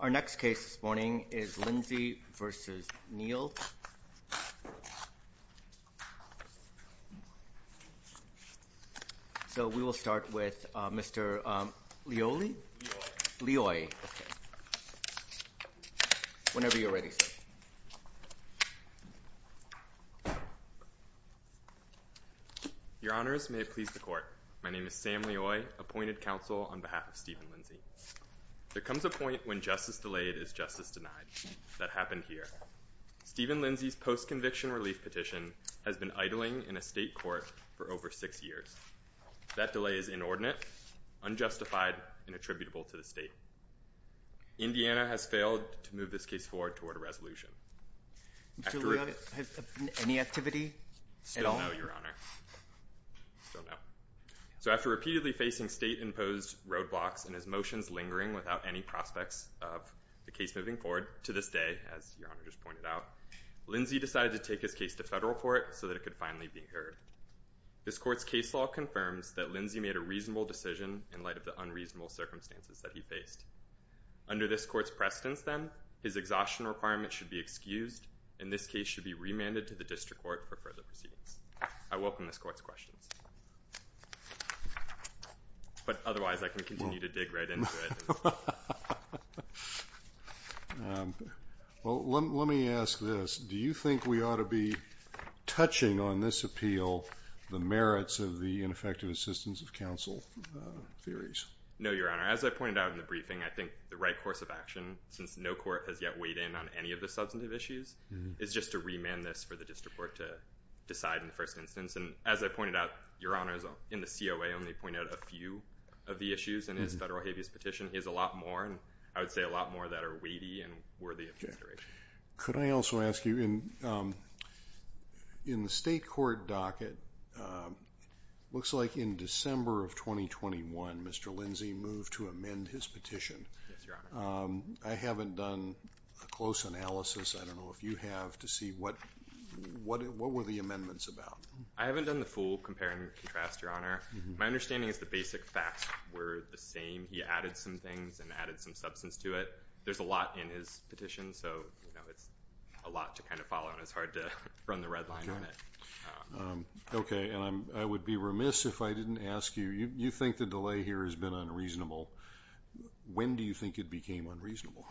Our next case this morning is Lindsey v. Neal. So we will start with Mr. Leoy. Whenever you're ready, sir. Your honors, may it please the court. My name is Sam Leoy, appointed counsel on behalf of Stephen Lindsey. There comes a point when justice delayed is justice denied. That happened here. Stephen Lindsey's post-conviction relief petition has been idling in a state court for over six years. That delay is inordinate, unjustified, and attributable to the state. Indiana has failed to move this case forward toward a resolution. Mr. Leoy, has there been any activity at all? Still no, your honor. Still no. So after repeatedly facing state-imposed roadblocks and his motions lingering without any prospects of the case moving forward to this day, as your honor just pointed out, Lindsey decided to take his case to federal court so that it could finally be heard. This court's case law confirms that Lindsey made a reasonable decision in light of the unreasonable circumstances that he faced. Under this court's precedence, then, his exhaustion requirement should be excused, and this case should be remanded to the district court for further proceedings. I welcome this court's questions. But otherwise, I can continue to dig right into it. Well, let me ask this. Do you think we ought to be touching on this appeal the merits of the ineffective assistance of counsel theories? No, your honor. As I pointed out in the briefing, I think the right course of action, since no court has yet weighed in on any of the substantive issues, is just to remand this for the district court to decide in the first instance. And as I pointed out, your honor, in the COA, I only pointed out a few of the issues in his federal habeas petition. He has a lot more, and I would say a lot more that are weighty and worthy of consideration. Could I also ask you, in the state court docket, it looks like in December of 2021, Mr. Lindsey moved to amend his petition. Yes, your honor. I haven't done a close analysis. I don't know if you have, to see what were the amendments about. I haven't done the full compare and contrast, your honor. My understanding is the basic facts were the same. He added some things and added some substance to it. There's a lot in his petition, so it's a lot to kind of follow, and it's hard to run the red line on it. Okay, and I would be remiss if I didn't ask you, you think the delay here has been unreasonable. When do you think it became unreasonable?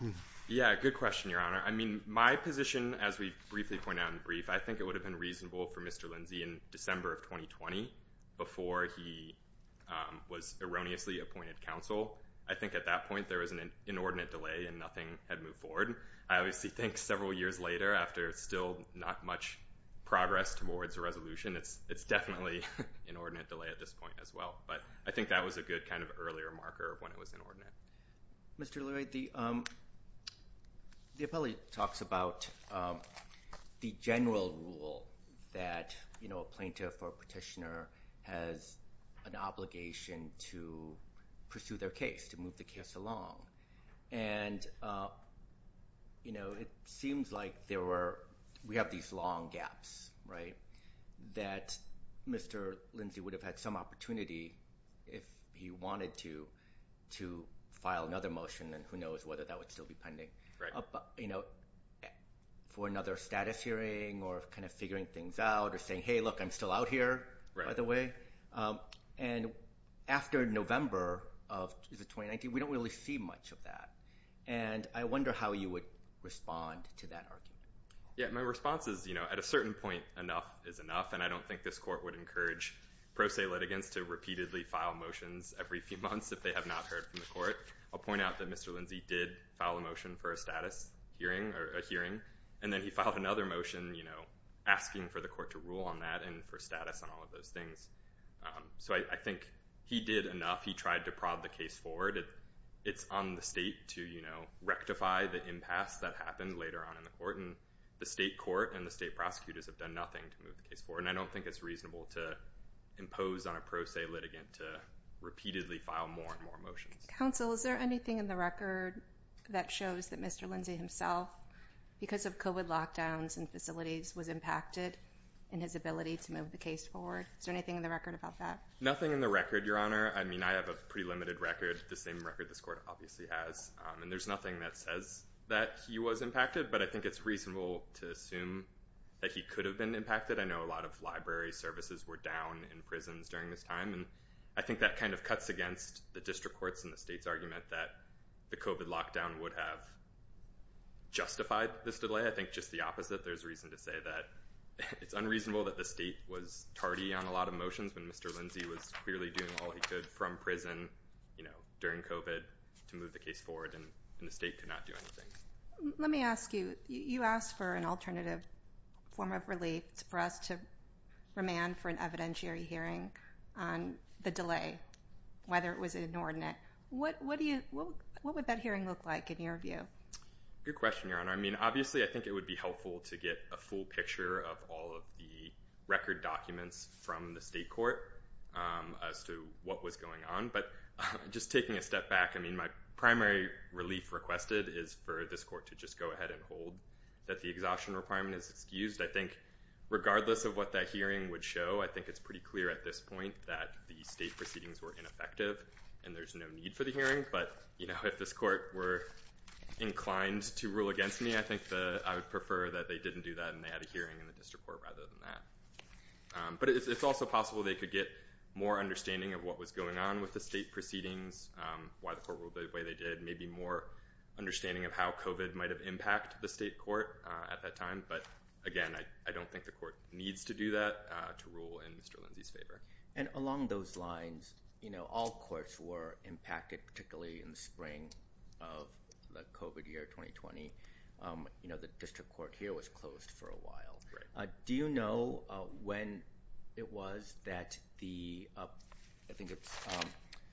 Yeah, good question, your honor. I mean, my position, as we briefly pointed out in the brief, I think it would have been reasonable for Mr. Lindsey in December of 2020, before he was erroneously appointed counsel. I think at that point there was an inordinate delay and nothing had moved forward. I obviously think several years later, after still not much progress towards a resolution, it's definitely an inordinate delay at this point as well. But I think that was a good kind of earlier marker of when it was inordinate. Mr. Lloyd, the appellee talks about the general rule that a plaintiff or petitioner has an obligation to pursue their case, to move the case along. And, you know, it seems like we have these long gaps, right, that Mr. Lindsey would have had some opportunity if he wanted to, to file another motion, and who knows whether that would still be pending, you know, for another status hearing or kind of figuring things out or saying, hey, look, I'm still out here, by the way. And after November of 2019, we don't really see much of that. And I wonder how you would respond to that argument. Yeah, my response is, you know, at a certain point, enough is enough. And I don't think this court would encourage pro se litigants to repeatedly file motions every few months if they have not heard from the court. I'll point out that Mr. Lindsey did file a motion for a status hearing or a hearing. And then he filed another motion, you know, asking for the court to rule on that and for status and all of those things. So I think he did enough. He tried to prod the case forward. It's on the state to, you know, rectify the impasse that happened later on in the court. And the state court and the state prosecutors have done nothing to move the case forward. And I don't think it's reasonable to impose on a pro se litigant to repeatedly file more and more motions. Counsel, is there anything in the record that shows that Mr. Lindsey himself, because of COVID lockdowns and facilities, was impacted in his ability to move the case forward? Is there anything in the record about that? Nothing in the record, Your Honor. I mean, I have a pretty limited record, the same record this court obviously has. And there's nothing that says that he was impacted. But I think it's reasonable to assume that he could have been impacted. I know a lot of library services were down in prisons during this time. And I think that kind of cuts against the district courts and the state's argument that the COVID lockdown would have justified this delay. I think just the opposite. There's reason to say that it's unreasonable that the state was tardy on a lot of motions when Mr. Lindsey was clearly doing all he could from prison, you know, during COVID to move the case forward. And the state could not do anything. Let me ask you, you asked for an alternative form of relief for us to remand for an evidentiary hearing on the delay, whether it was inordinate. What would that hearing look like in your view? Good question, Your Honor. I mean, obviously, I think it would be helpful to get a full picture of all of the record documents from the state court as to what was going on. But just taking a step back, I mean, my primary relief requested is for this court to just go ahead and hold that the exhaustion requirement is excused. I think regardless of what that hearing would show, I think it's pretty clear at this point that the state proceedings were ineffective and there's no need for the hearing. But, you know, if this court were inclined to rule against me, I think I would prefer that they didn't do that and they had a hearing in the district court rather than that. But it's also possible they could get more understanding of what was going on with the state proceedings, why the court ruled the way they did, maybe more understanding of how COVID might have impact the state court at that time. But again, I don't think the court needs to do that to rule in Mr. Lindsay's favor. And along those lines, you know, all courts were impacted, particularly in the spring of the COVID year 2020. You know, the district court here was closed for a while. Do you know when it was that the I think it's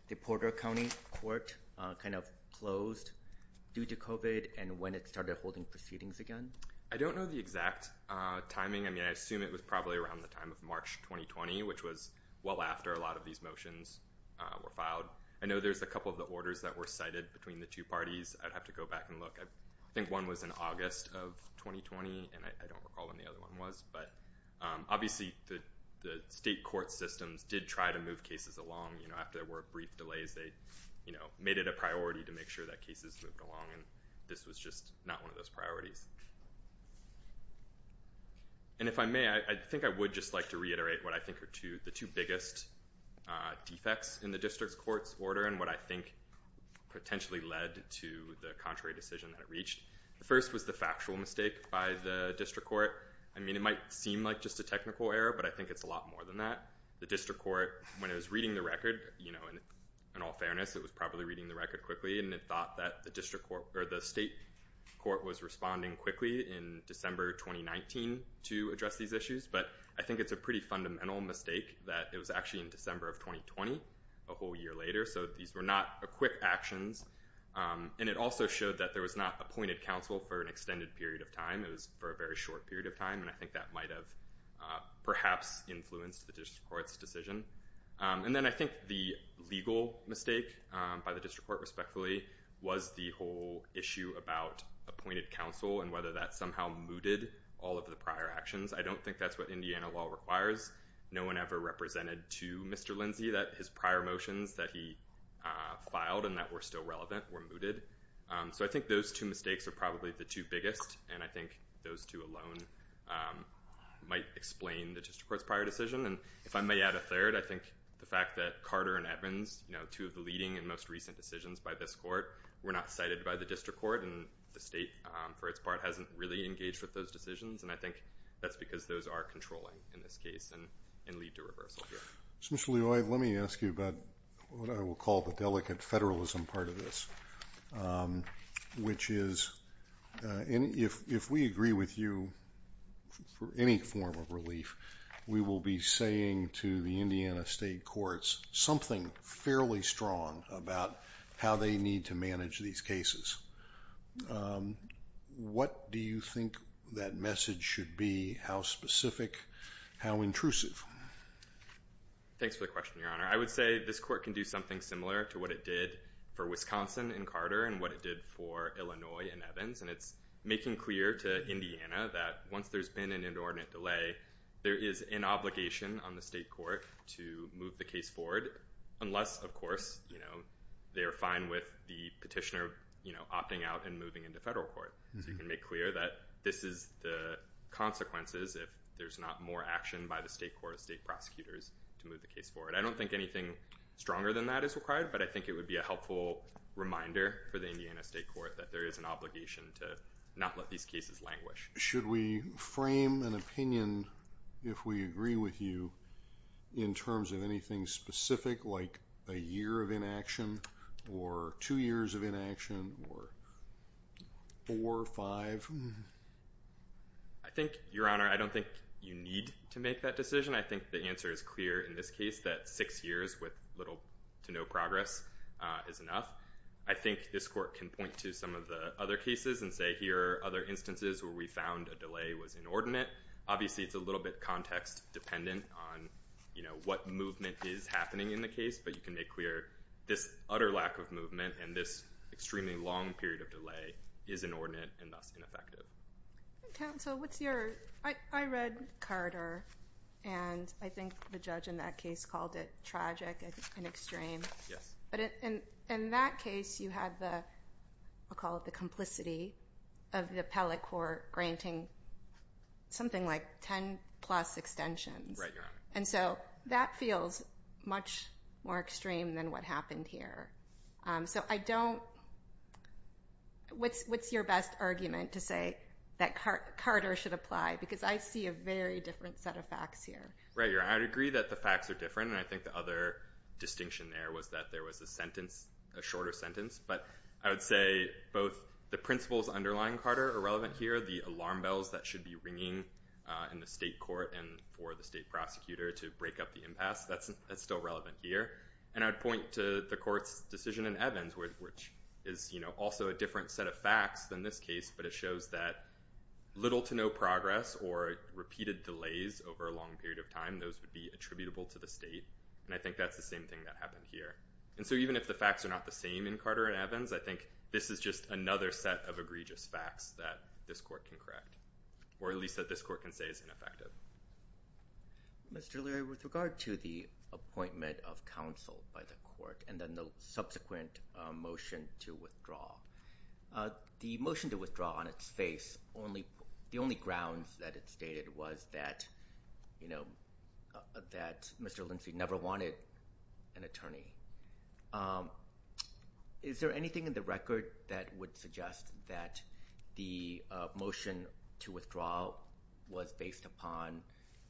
the Porter County court kind of closed due to COVID and when it started holding proceedings again? I don't know the exact timing. I mean, I assume it was probably around the time of March 2020, which was well after a lot of these motions were filed. I know there's a couple of the orders that were cited between the two parties. I'd have to go back and look. I think one was in August of 2020, and I don't recall when the other one was. But obviously, the state court systems did try to move cases along. You know, after there were brief delays, they made it a priority to make sure that cases moved along. And this was just not one of those priorities. And if I may, I think I would just like to reiterate what I think are the two biggest defects in the district court's order and what I think potentially led to the contrary decision that it reached. The first was the factual mistake by the district court. I mean, it might seem like just a technical error, but I think it's a lot more than that. The district court, when it was reading the record, you know, in all fairness, it was probably reading the record quickly. And it thought that the district court or the state court was responding quickly in December 2019 to address these issues. But I think it's a pretty fundamental mistake that it was actually in December of 2020, a whole year later. So these were not quick actions. And it also showed that there was not appointed counsel for an extended period of time. It was for a very short period of time. And I think that might have perhaps influenced the district court's decision. And then I think the legal mistake by the district court, respectfully, was the whole issue about appointed counsel and whether that somehow mooted all of the prior actions. I don't think that's what Indiana law requires. No one ever represented to Mr. Lindsay that his prior motions that he filed and that were still relevant were mooted. So I think those two mistakes are probably the two biggest. And I think those two alone might explain the district court's prior decision. And if I may add a third, I think the fact that Carter and Evans, you know, two of the leading and most recent decisions by this court, were not cited by the district court. And the state, for its part, hasn't really engaged with those decisions. And I think that's because those are controlling, in this case, and lead to reversal here. Mr. Leoy, let me ask you about what I will call the delicate federalism part of this, which is if we agree with you for any form of relief, we will be saying to the Indiana state courts something fairly strong about how they need to manage these cases. What do you think that message should be? How specific? How intrusive? Thanks for the question, Your Honor. I would say this court can do something similar to what it did for Wisconsin and Carter and what it did for Illinois and Evans. And it's making clear to Indiana that once there's been an inordinate delay, there is an obligation on the state court to move the case forward, unless, of course, they are fine with the petitioner opting out and moving into federal court. So you can make clear that this is the consequences if there's not more action by the state court of state prosecutors to move the case forward. I don't think anything stronger than that is required, but I think it would be a helpful reminder for the Indiana state court that there is an obligation to not let these cases languish. Should we frame an opinion, if we agree with you, in terms of anything specific like a year of inaction or two years of inaction or four, five? I think, Your Honor, I don't think you need to make that decision. I think the answer is clear in this case that six years with little to no progress is enough. I think this court can point to some of the other cases and say, here are other instances where we found a delay was inordinate. Obviously, it's a little bit context-dependent on what movement is happening in the case, but you can make clear this utter lack of movement and this extremely long period of delay is inordinate and thus ineffective. Counsel, I read Carter, and I think the judge in that case called it tragic and extreme. In that case, you had the complicity of the appellate court granting something like 10-plus extensions. Right, Your Honor. That feels much more extreme than what happened here. What's your best argument to say that Carter should apply? Because I see a very different set of facts here. Right, Your Honor. I agree that the facts are different, and I think the other distinction there was that there was a sentence, a shorter sentence, but I would say both the principles underlying Carter are relevant here. The alarm bells that should be ringing in the state court and for the state prosecutor to break up the impasse, that's still relevant here. And I'd point to the court's decision in Evans, which is also a different set of facts than this case, but it shows that little to no progress or repeated delays over a long period of time, those would be attributable to the state, and I think that's the same thing that happened here. And so even if the facts are not the same in Carter and Evans, I think this is just another set of egregious facts that this court can correct, or at least that this court can say is ineffective. Mr. O'Leary, with regard to the appointment of counsel by the court and then the subsequent motion to withdraw, the motion to withdraw on its face, the only grounds that it stated was that, you know, that Mr. Lindsay never wanted an attorney. Is there anything in the record that would suggest that the motion to withdraw was based upon,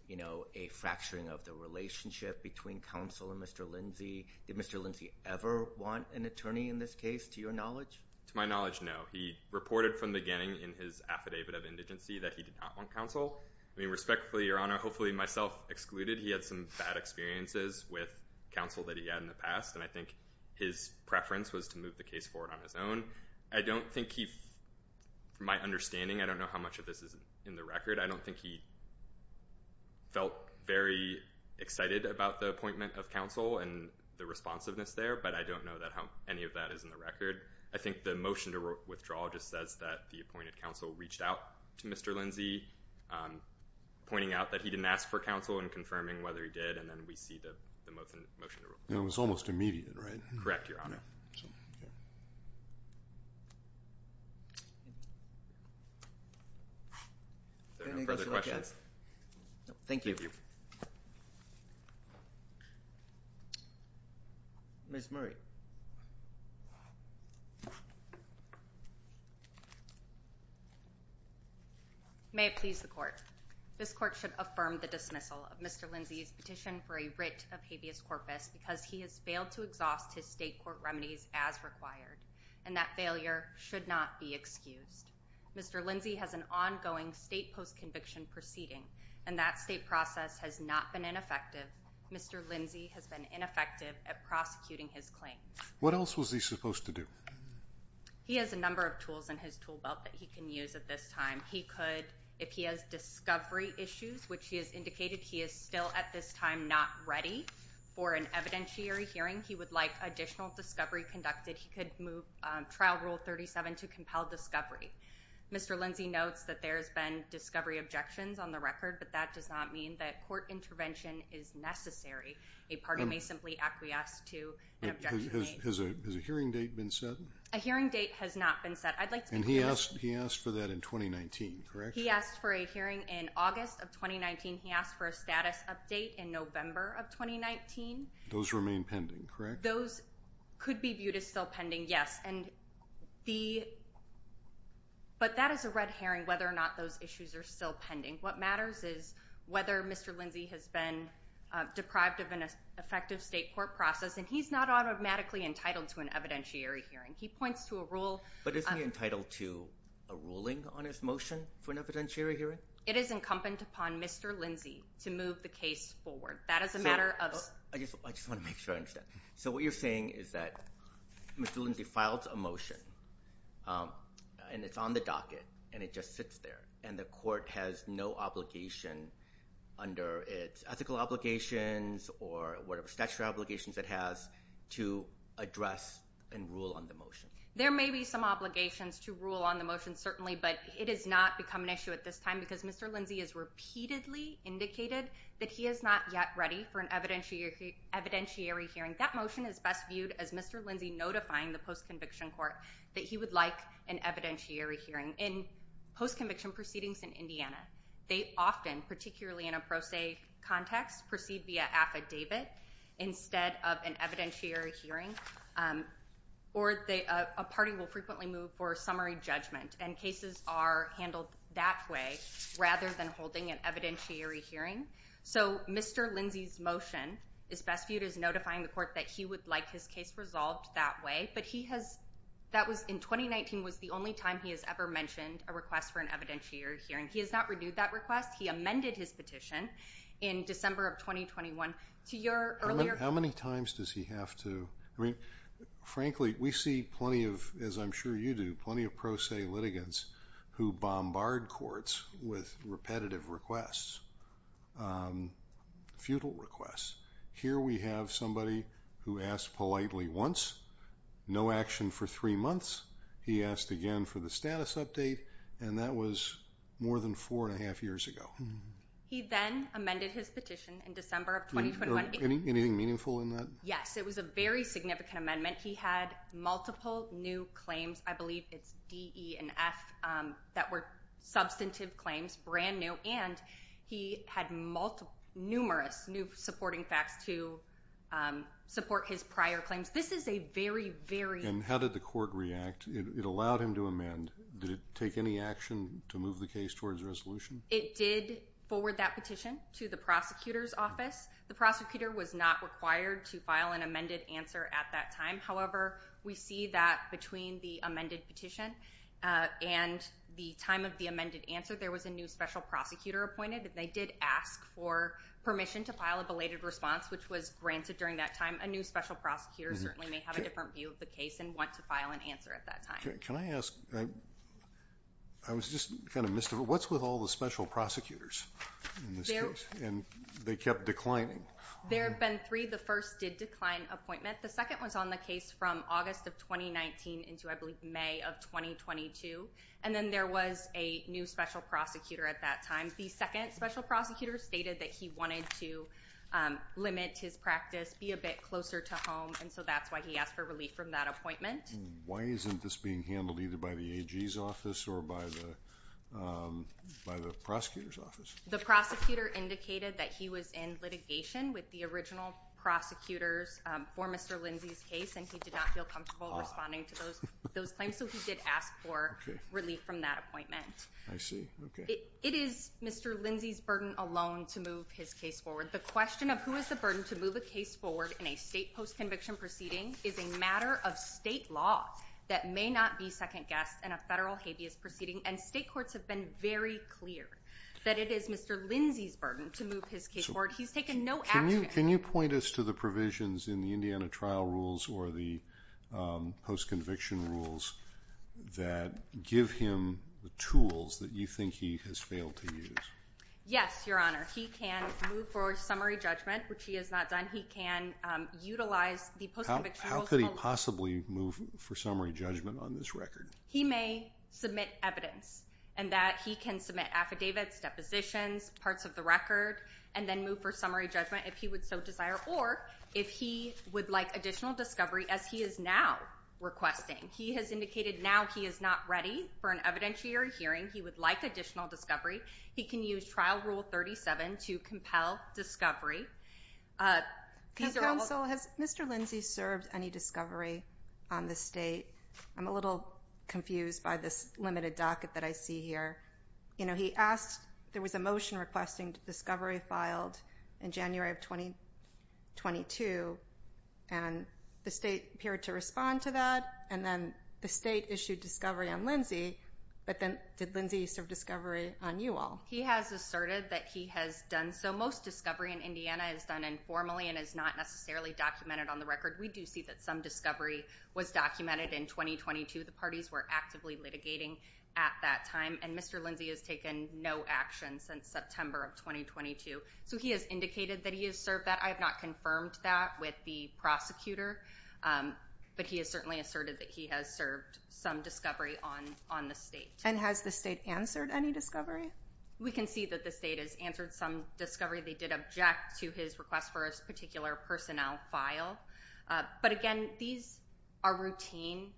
you know, a fracturing of the relationship between counsel and Mr. Lindsay? Did Mr. Lindsay ever want an attorney in this case, to your knowledge? To my knowledge, no. He reported from the beginning in his affidavit of indigency that he did not want counsel. I mean, respectfully, Your Honor, hopefully myself excluded, he had some bad experiences with counsel that he had in the past, and I think his preference was to move the case forward on his own. I don't think he, from my understanding, I don't know how much of this is in the record, I don't think he felt very excited about the appointment of counsel, and the responsiveness there, but I don't know how any of that is in the record. I think the motion to withdraw just says that the appointed counsel reached out to Mr. Lindsay, pointing out that he didn't ask for counsel and confirming whether he did, and then we see the motion to withdraw. It was almost immediate, right? Correct, Your Honor. Are there any further questions? Thank you. Ms. Murray. May it please the Court. This Court should affirm the dismissal of Mr. Lindsay's petition for a writ of habeas corpus because he has failed to exhaust his state court remedies as required, and that failure should not be excused. Mr. Lindsay has an ongoing state post-conviction proceeding, and that state process has not been ineffective. Mr. Lindsay has been ineffective at prosecuting his claims. What else was he supposed to do? He has a number of tools in his tool belt that he can use at this time. He could, if he has discovery issues, which he has indicated he is still at this time not ready for an evidentiary hearing, he would like additional discovery conducted. He could move Trial Rule 37 to compel discovery. Mr. Lindsay notes that there has been discovery objections on the record, but that does not mean that court intervention is necessary. A party may simply acquiesce to an objection. Has a hearing date been set? A hearing date has not been set. I'd like to be clear. And he asked for that in 2019, correct? He asked for a hearing in August of 2019. He asked for a status update in November of 2019. Those remain pending, correct? Those could be viewed as still pending, yes. But that is a red herring whether or not those issues are still pending. What matters is whether Mr. Lindsay has been deprived of an effective state court process, and he's not automatically entitled to an evidentiary hearing. He points to a rule. But isn't he entitled to a ruling on his motion for an evidentiary hearing? It is incumbent upon Mr. Lindsay to move the case forward. I just want to make sure I understand. So what you're saying is that Mr. Lindsay files a motion, and it's on the docket, and it just sits there, and the court has no obligation under its ethical obligations or whatever statutory obligations it has to address and rule on the motion. There may be some obligations to rule on the motion, certainly, but it has not become an issue at this time because Mr. Lindsay has repeatedly indicated that he is not yet ready for an evidentiary hearing. That motion is best viewed as Mr. Lindsay notifying the post-conviction court that he would like an evidentiary hearing. In post-conviction proceedings in Indiana, they often, particularly in a pro se context, proceed via affidavit instead of an evidentiary hearing, or a party will frequently move for summary judgment, and cases are handled that way rather than holding an evidentiary hearing. So Mr. Lindsay's motion is best viewed as notifying the court that he would like his case resolved that way, but in 2019 was the only time he has ever mentioned a request for an evidentiary hearing. He has not renewed that request. He amended his petition in December of 2021. How many times does he have to? Frankly, we see plenty of, as I'm sure you do, plenty of pro se litigants who bombard courts with repetitive requests, futile requests. Here we have somebody who asked politely once, no action for three months. He asked again for the status update, and that was more than four and a half years ago. He then amended his petition in December of 2021. Anything meaningful in that? Yes, it was a very significant amendment. He had multiple new claims. I believe it's D, E, and F that were substantive claims, brand new, and he had numerous new supporting facts to support his prior claims. This is a very, very— And how did the court react? It allowed him to amend. Did it take any action to move the case towards resolution? It did forward that petition to the prosecutor's office. The prosecutor was not required to file an amended answer at that time. However, we see that between the amended petition and the time of the amended answer, there was a new special prosecutor appointed, and they did ask for permission to file a belated response, which was granted during that time. A new special prosecutor certainly may have a different view of the case and want to file an answer at that time. Can I ask—I was just kind of mystified. What's with all the special prosecutors in this case? And they kept declining. There have been three. The first did decline appointment. The second was on the case from August of 2019 into, I believe, May of 2022, and then there was a new special prosecutor at that time. The second special prosecutor stated that he wanted to limit his practice, be a bit closer to home, and so that's why he asked for relief from that appointment. Why isn't this being handled either by the AG's office or by the prosecutor's office? The prosecutor indicated that he was in litigation with the original prosecutors for Mr. Lindsey's case, and he did not feel comfortable responding to those claims, so he did ask for relief from that appointment. I see. Okay. It is Mr. Lindsey's burden alone to move his case forward. The question of who is the burden to move a case forward in a state post-conviction proceeding is a matter of state law that may not be second-guessed in a federal habeas proceeding, and state courts have been very clear that it is Mr. Lindsey's burden to move his case forward. He's taken no action. Can you point us to the provisions in the Indiana trial rules or the post-conviction rules that give him the tools that you think he has failed to use? Yes, Your Honor. He can move for summary judgment, which he has not done. He can utilize the post-conviction rules. How could he possibly move for summary judgment on this record? He may submit evidence in that he can submit affidavits, depositions, parts of the record, and then move for summary judgment if he would so desire or if he would like additional discovery as he is now requesting. He has indicated now he is not ready for an evidentiary hearing. He would like additional discovery. He can use Trial Rule 37 to compel discovery. Counsel, has Mr. Lindsey served any discovery on this state? I'm a little confused by this limited docket that I see here. He asked, there was a motion requesting discovery filed in January of 2022, and the state appeared to respond to that, and then the state issued discovery on Lindsey, but then did Lindsey serve discovery on you all? He has asserted that he has done so. Most discovery in Indiana is done informally and is not necessarily documented on the record. We do see that some discovery was documented in 2022. The parties were actively litigating at that time, and Mr. Lindsey has taken no action since September of 2022. So he has indicated that he has served that. I have not confirmed that with the prosecutor, but he has certainly asserted that he has served some discovery on the state. And has the state answered any discovery? We can see that the state has answered some discovery. They did object to his request for a particular personnel file. But, again, these are routine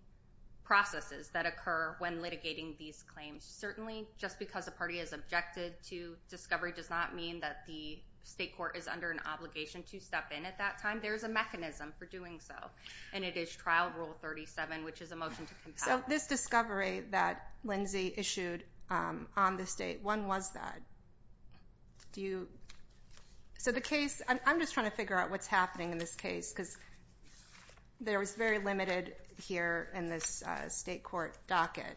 processes that occur when litigating these claims. Certainly just because a party has objected to discovery does not mean that the state court is under an obligation to step in at that time. There is a mechanism for doing so, and it is Trial Rule 37, which is a motion to compel. So this discovery that Lindsey issued on the state, when was that? Do you? So the case, I'm just trying to figure out what's happening in this case, because there was very limited here in this state court docket.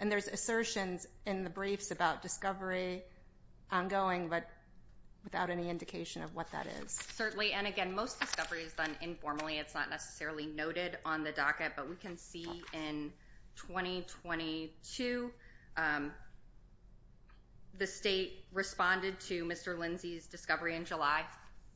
And there's assertions in the briefs about discovery ongoing, but without any indication of what that is. Certainly, and, again, most discovery is done informally. It's not necessarily noted on the docket. But we can see in 2022, the state responded to Mr. Lindsey's discovery in July,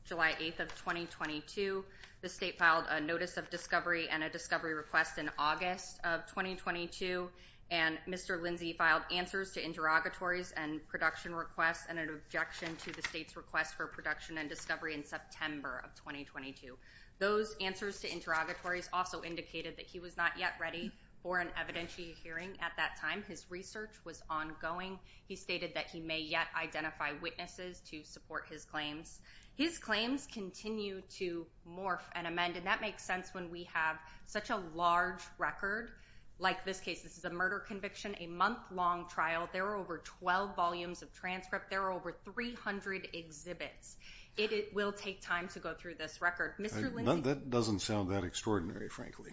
July 8th of 2022. The state filed a notice of discovery and a discovery request in August of 2022. And Mr. Lindsey filed answers to interrogatories and production requests and an objection to the state's request for production and discovery in September of 2022. Those answers to interrogatories also indicated that he was not yet ready for an evidentiary hearing at that time. His research was ongoing. He stated that he may yet identify witnesses to support his claims. His claims continue to morph and amend, and that makes sense when we have such a large record. Like this case, this is a murder conviction, a month-long trial. There are over 12 volumes of transcript. There are over 300 exhibits. It will take time to go through this record. That doesn't sound that extraordinary, frankly.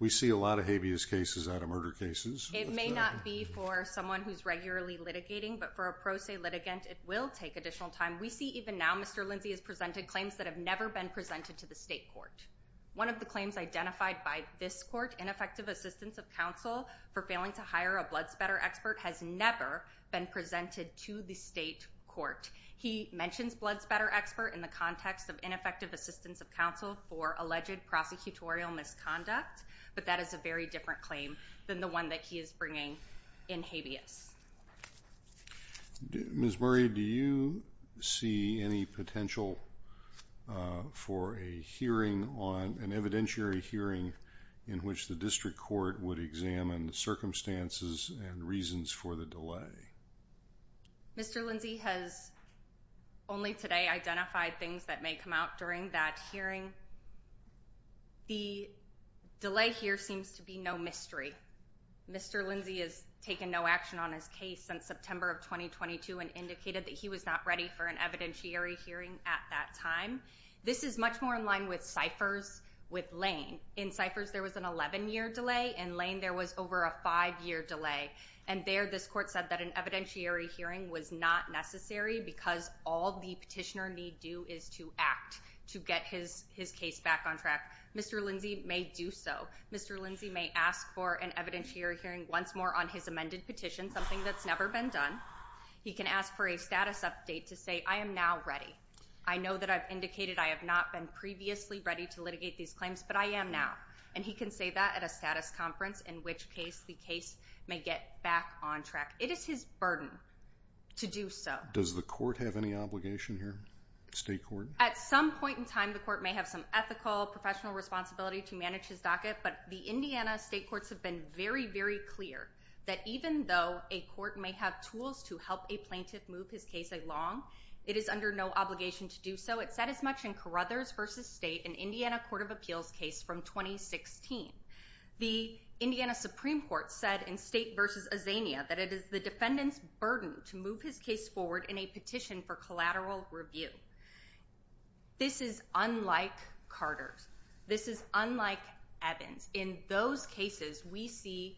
We see a lot of habeas cases out of murder cases. It may not be for someone who's regularly litigating, but for a pro se litigant, it will take additional time. We see even now Mr. Lindsey has presented claims that have never been presented to the state court. One of the claims identified by this court, ineffective assistance of counsel for failing to hire a blood spatter expert, has never been presented to the state court. He mentions blood spatter expert in the context of ineffective assistance of counsel for alleged prosecutorial misconduct, but that is a very different claim than the one that he is bringing in habeas. Ms. Murray, do you see any potential for a hearing on an evidentiary hearing in which the district court would examine the circumstances and reasons for the delay? Mr. Lindsey has only today identified things that may come out during that hearing. The delay here seems to be no mystery. Mr. Lindsey has taken no action on his case since September of 2022 and indicated that he was not ready for an evidentiary hearing at that time. This is much more in line with ciphers with Lane. In ciphers, there was an 11-year delay. In Lane, there was over a five-year delay. And there, this court said that an evidentiary hearing was not necessary because all the petitioner need do is to act to get his case back on track. Mr. Lindsey may do so. Mr. Lindsey may ask for an evidentiary hearing once more on his amended petition, something that's never been done. He can ask for a status update to say, I am now ready. I know that I've indicated I have not been previously ready to litigate these claims, but I am now. And he can say that at a status conference, in which case the case may get back on track. It is his burden to do so. Does the court have any obligation here, state court? At some point in time, the court may have some ethical professional responsibility to manage his docket, but the Indiana state courts have been very, very clear that even though a court may have tools to help a plaintiff move his case along, it is under no obligation to do so. It's said as much in Carruthers v. State, an Indiana Court of Appeals case from 2016. The Indiana Supreme Court said in State v. Azania that it is the defendant's burden to move his case forward in a petition for collateral review. This is unlike Carter's. This is unlike Evans'. In those cases, we see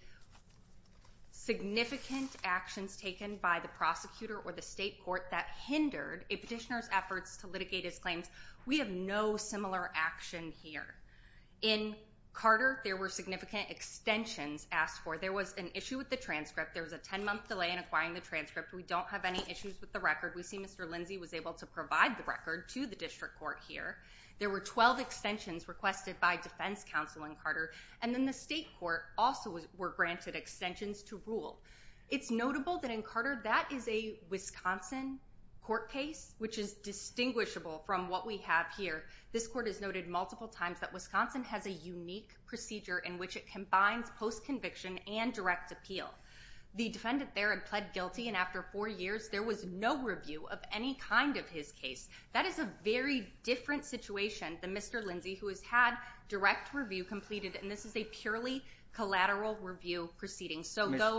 significant actions taken by the prosecutor or the state court that hindered a petitioner's efforts to litigate his claims. We have no similar action here. In Carter, there were significant extensions asked for. There was an issue with the transcript. There was a 10-month delay in acquiring the transcript. We don't have any issues with the record. We see Mr. Lindsay was able to provide the record to the district court here. There were 12 extensions requested by defense counsel in Carter, and then the state court also were granted extensions to rule. It's notable that in Carter, that is a Wisconsin court case, which is distinguishable from what we have here. This court has noted multiple times that Wisconsin has a unique procedure in which it combines post-conviction and direct appeal. The defendant there had pled guilty, and after four years, there was no review of any kind of his case. That is a very different situation than Mr. Lindsay, who has had direct review completed, and this is a purely collateral review proceeding.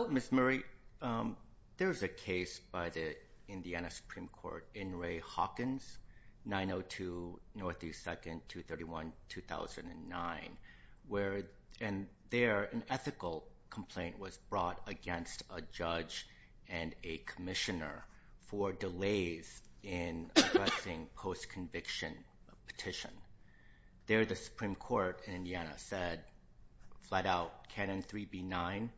Ms. Murray, there is a case by the Indiana Supreme Court in Ray Hawkins, 902 Northeast 2nd, 231-2009, where an ethical complaint was brought against a judge and a commissioner for delays in addressing post-conviction petition. There, the Supreme Court in Indiana said, flat out, Canon 3B9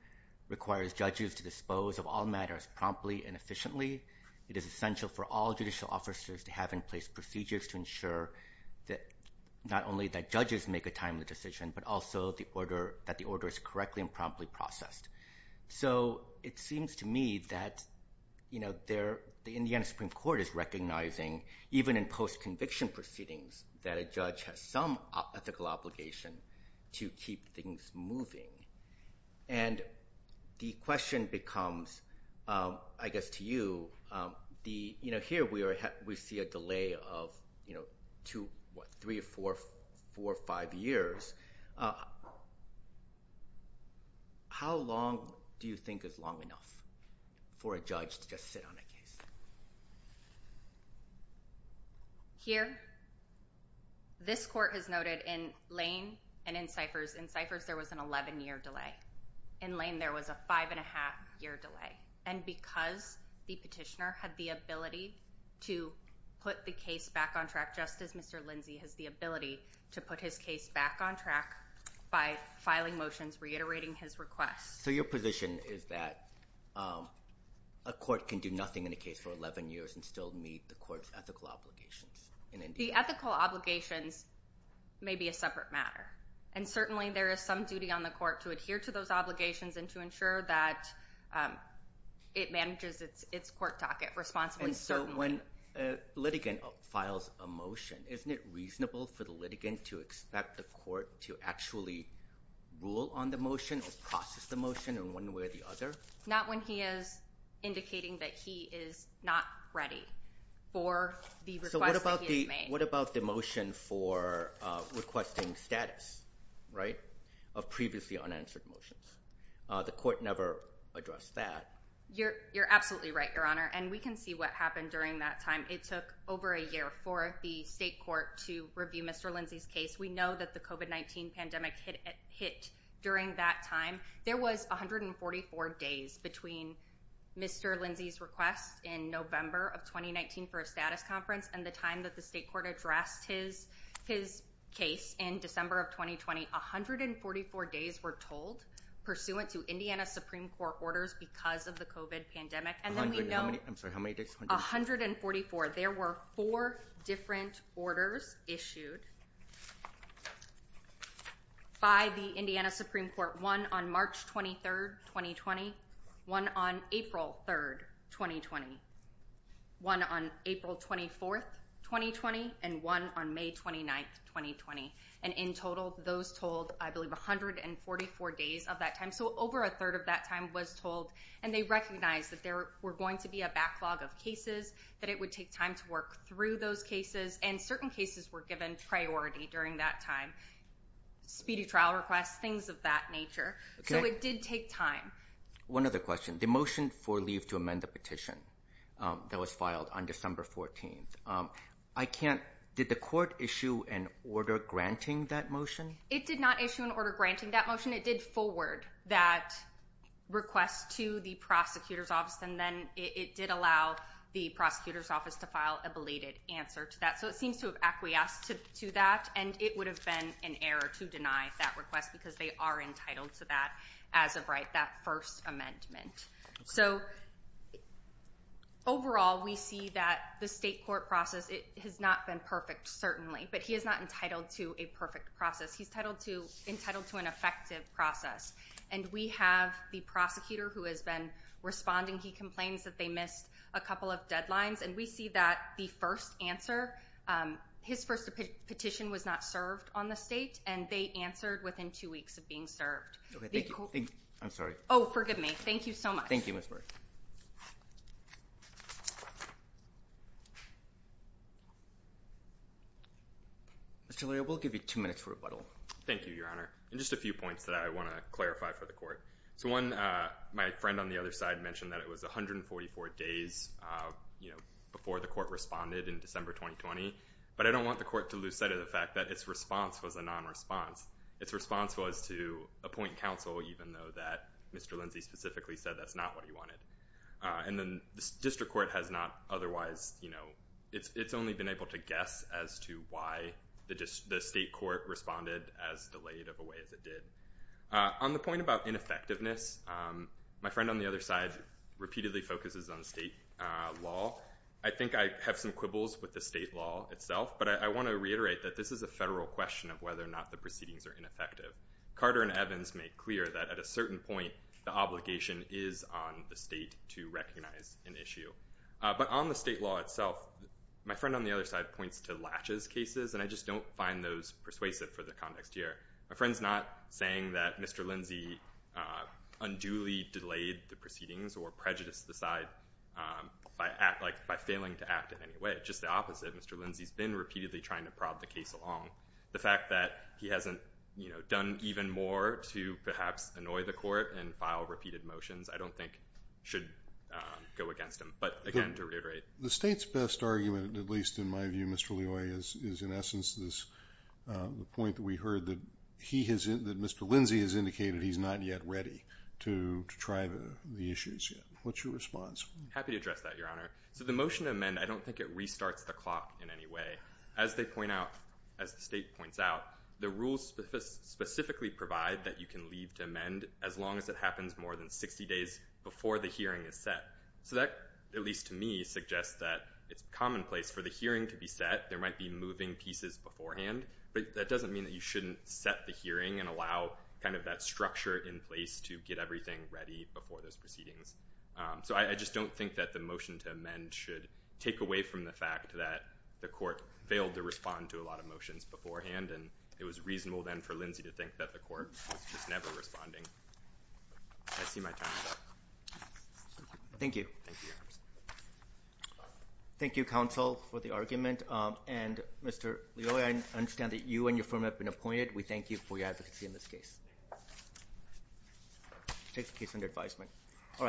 requires judges to dispose of all matters promptly and efficiently. It is essential for all judicial officers to have in place procedures to ensure not only that judges make a timely decision, but also that the order is correctly and promptly processed. So it seems to me that the Indiana Supreme Court is recognizing, even in post-conviction proceedings, that a judge has some ethical obligation to keep things moving. And the question becomes, I guess to you, here we see a delay of three, four, five years. How long do you think is long enough for a judge to just sit on a case? Here, this court has noted in Lane and in Cyphers, in Cyphers there was an 11-year delay. In Lane there was a five-and-a-half-year delay. And because the petitioner had the ability to put the case back on track, just as Mr. Lindsay has the ability to put his case back on track by filing motions reiterating his request. So your position is that a court can do nothing in a case for 11 years and still meet the court's ethical obligations in Indiana? The ethical obligations may be a separate matter. And certainly there is some duty on the court to adhere to those obligations and to ensure that it manages its court docket responsibly. And so when a litigant files a motion, isn't it reasonable for the litigant to expect the court to actually rule on the motion or process the motion in one way or the other? Not when he is indicating that he is not ready for the request that he has made. So what about the motion for requesting status, right, of previously unanswered motions? The court never addressed that. You're absolutely right, Your Honor. And we can see what happened during that time. It took over a year for the state court to review Mr. Lindsay's case. We know that the COVID-19 pandemic hit during that time. There was 144 days between Mr. Lindsay's request in November of 2019 for a status conference and the time that the state court addressed his case in December of 2020. 144 days, we're told, pursuant to Indiana Supreme Court orders because of the COVID pandemic. I'm sorry, how many days? 144. 144. There were four different orders issued by the Indiana Supreme Court, one on March 23rd, 2020, one on April 3rd, 2020, one on April 24th, 2020, and one on May 29th, 2020. And in total, those told, I believe, 144 days of that time. So over a third of that time was told, and they recognized that there were going to be a backlog of cases, that it would take time to work through those cases, and certain cases were given priority during that time, speedy trial requests, things of that nature. So it did take time. One other question, the motion for leave to amend the petition that was filed on December 14th, did the court issue an order granting that motion? It did not issue an order granting that motion. It did forward that request to the prosecutor's office, and then it did allow the prosecutor's office to file a belated answer to that. So it seems to have acquiesced to that, and it would have been an error to deny that request, because they are entitled to that as of right, that first amendment. So overall, we see that the state court process, it has not been perfect, certainly, but he is not entitled to a perfect process. He's entitled to an effective process. And we have the prosecutor who has been responding. He complains that they missed a couple of deadlines, and we see that the first answer, his first petition was not served on the state, and they answered within two weeks of being served. Okay, thank you. I'm sorry. Oh, forgive me. Thank you so much. Thank you, Ms. Burke. Mr. Leroy, I will give you two minutes for rebuttal. Thank you, Your Honor. And just a few points that I want to clarify for the court. So one, my friend on the other side mentioned that it was 144 days, you know, before the court responded in December 2020. But I don't want the court to lose sight of the fact that its response was a non-response. Its response was to appoint counsel, even though that Mr. Lindsay specifically said that's not what he wanted. And then the district court has not otherwise, you know, it's only been able to guess as to why the state court responded as delayed of a way as it did. On the point about ineffectiveness, my friend on the other side repeatedly focuses on state law. I think I have some quibbles with the state law itself, but I want to reiterate that this is a federal question of whether or not the proceedings are ineffective. Carter and Evans make clear that at a certain point the obligation is on the state to recognize an issue. But on the state law itself, my friend on the other side points to latches cases, and I just don't find those persuasive for the context here. My friend's not saying that Mr. Lindsay unduly delayed the proceedings or prejudiced the side by failing to act in any way. Just the opposite. Mr. Lindsay's been repeatedly trying to prob the case along. The fact that he hasn't, you know, done even more to perhaps annoy the court and file repeated motions, I don't think should go against him. But, again, to reiterate. The state's best argument, at least in my view, Mr. Loy, is in essence the point that we heard, that Mr. Lindsay has indicated he's not yet ready to try the issues yet. What's your response? Happy to address that, Your Honor. So the motion to amend, I don't think it restarts the clock in any way. As they point out, as the state points out, the rules specifically provide that you can leave to amend as long as it happens more than 60 days before the hearing is set. So that, at least to me, suggests that it's commonplace. For the hearing to be set, there might be moving pieces beforehand, but that doesn't mean that you shouldn't set the hearing and allow kind of that structure in place to get everything ready before those proceedings. So I just don't think that the motion to amend should take away from the fact that the court failed to respond to a lot of motions beforehand, and it was reasonable, then, for Lindsay to think that the court was just never responding. I see my time is up. Thank you. Thank you, Your Honor. Thank you, counsel, for the argument. And, Mr. Leoy, I understand that you and your firm have been appointed. We thank you for your advocacy in this case. Take the case under advisement.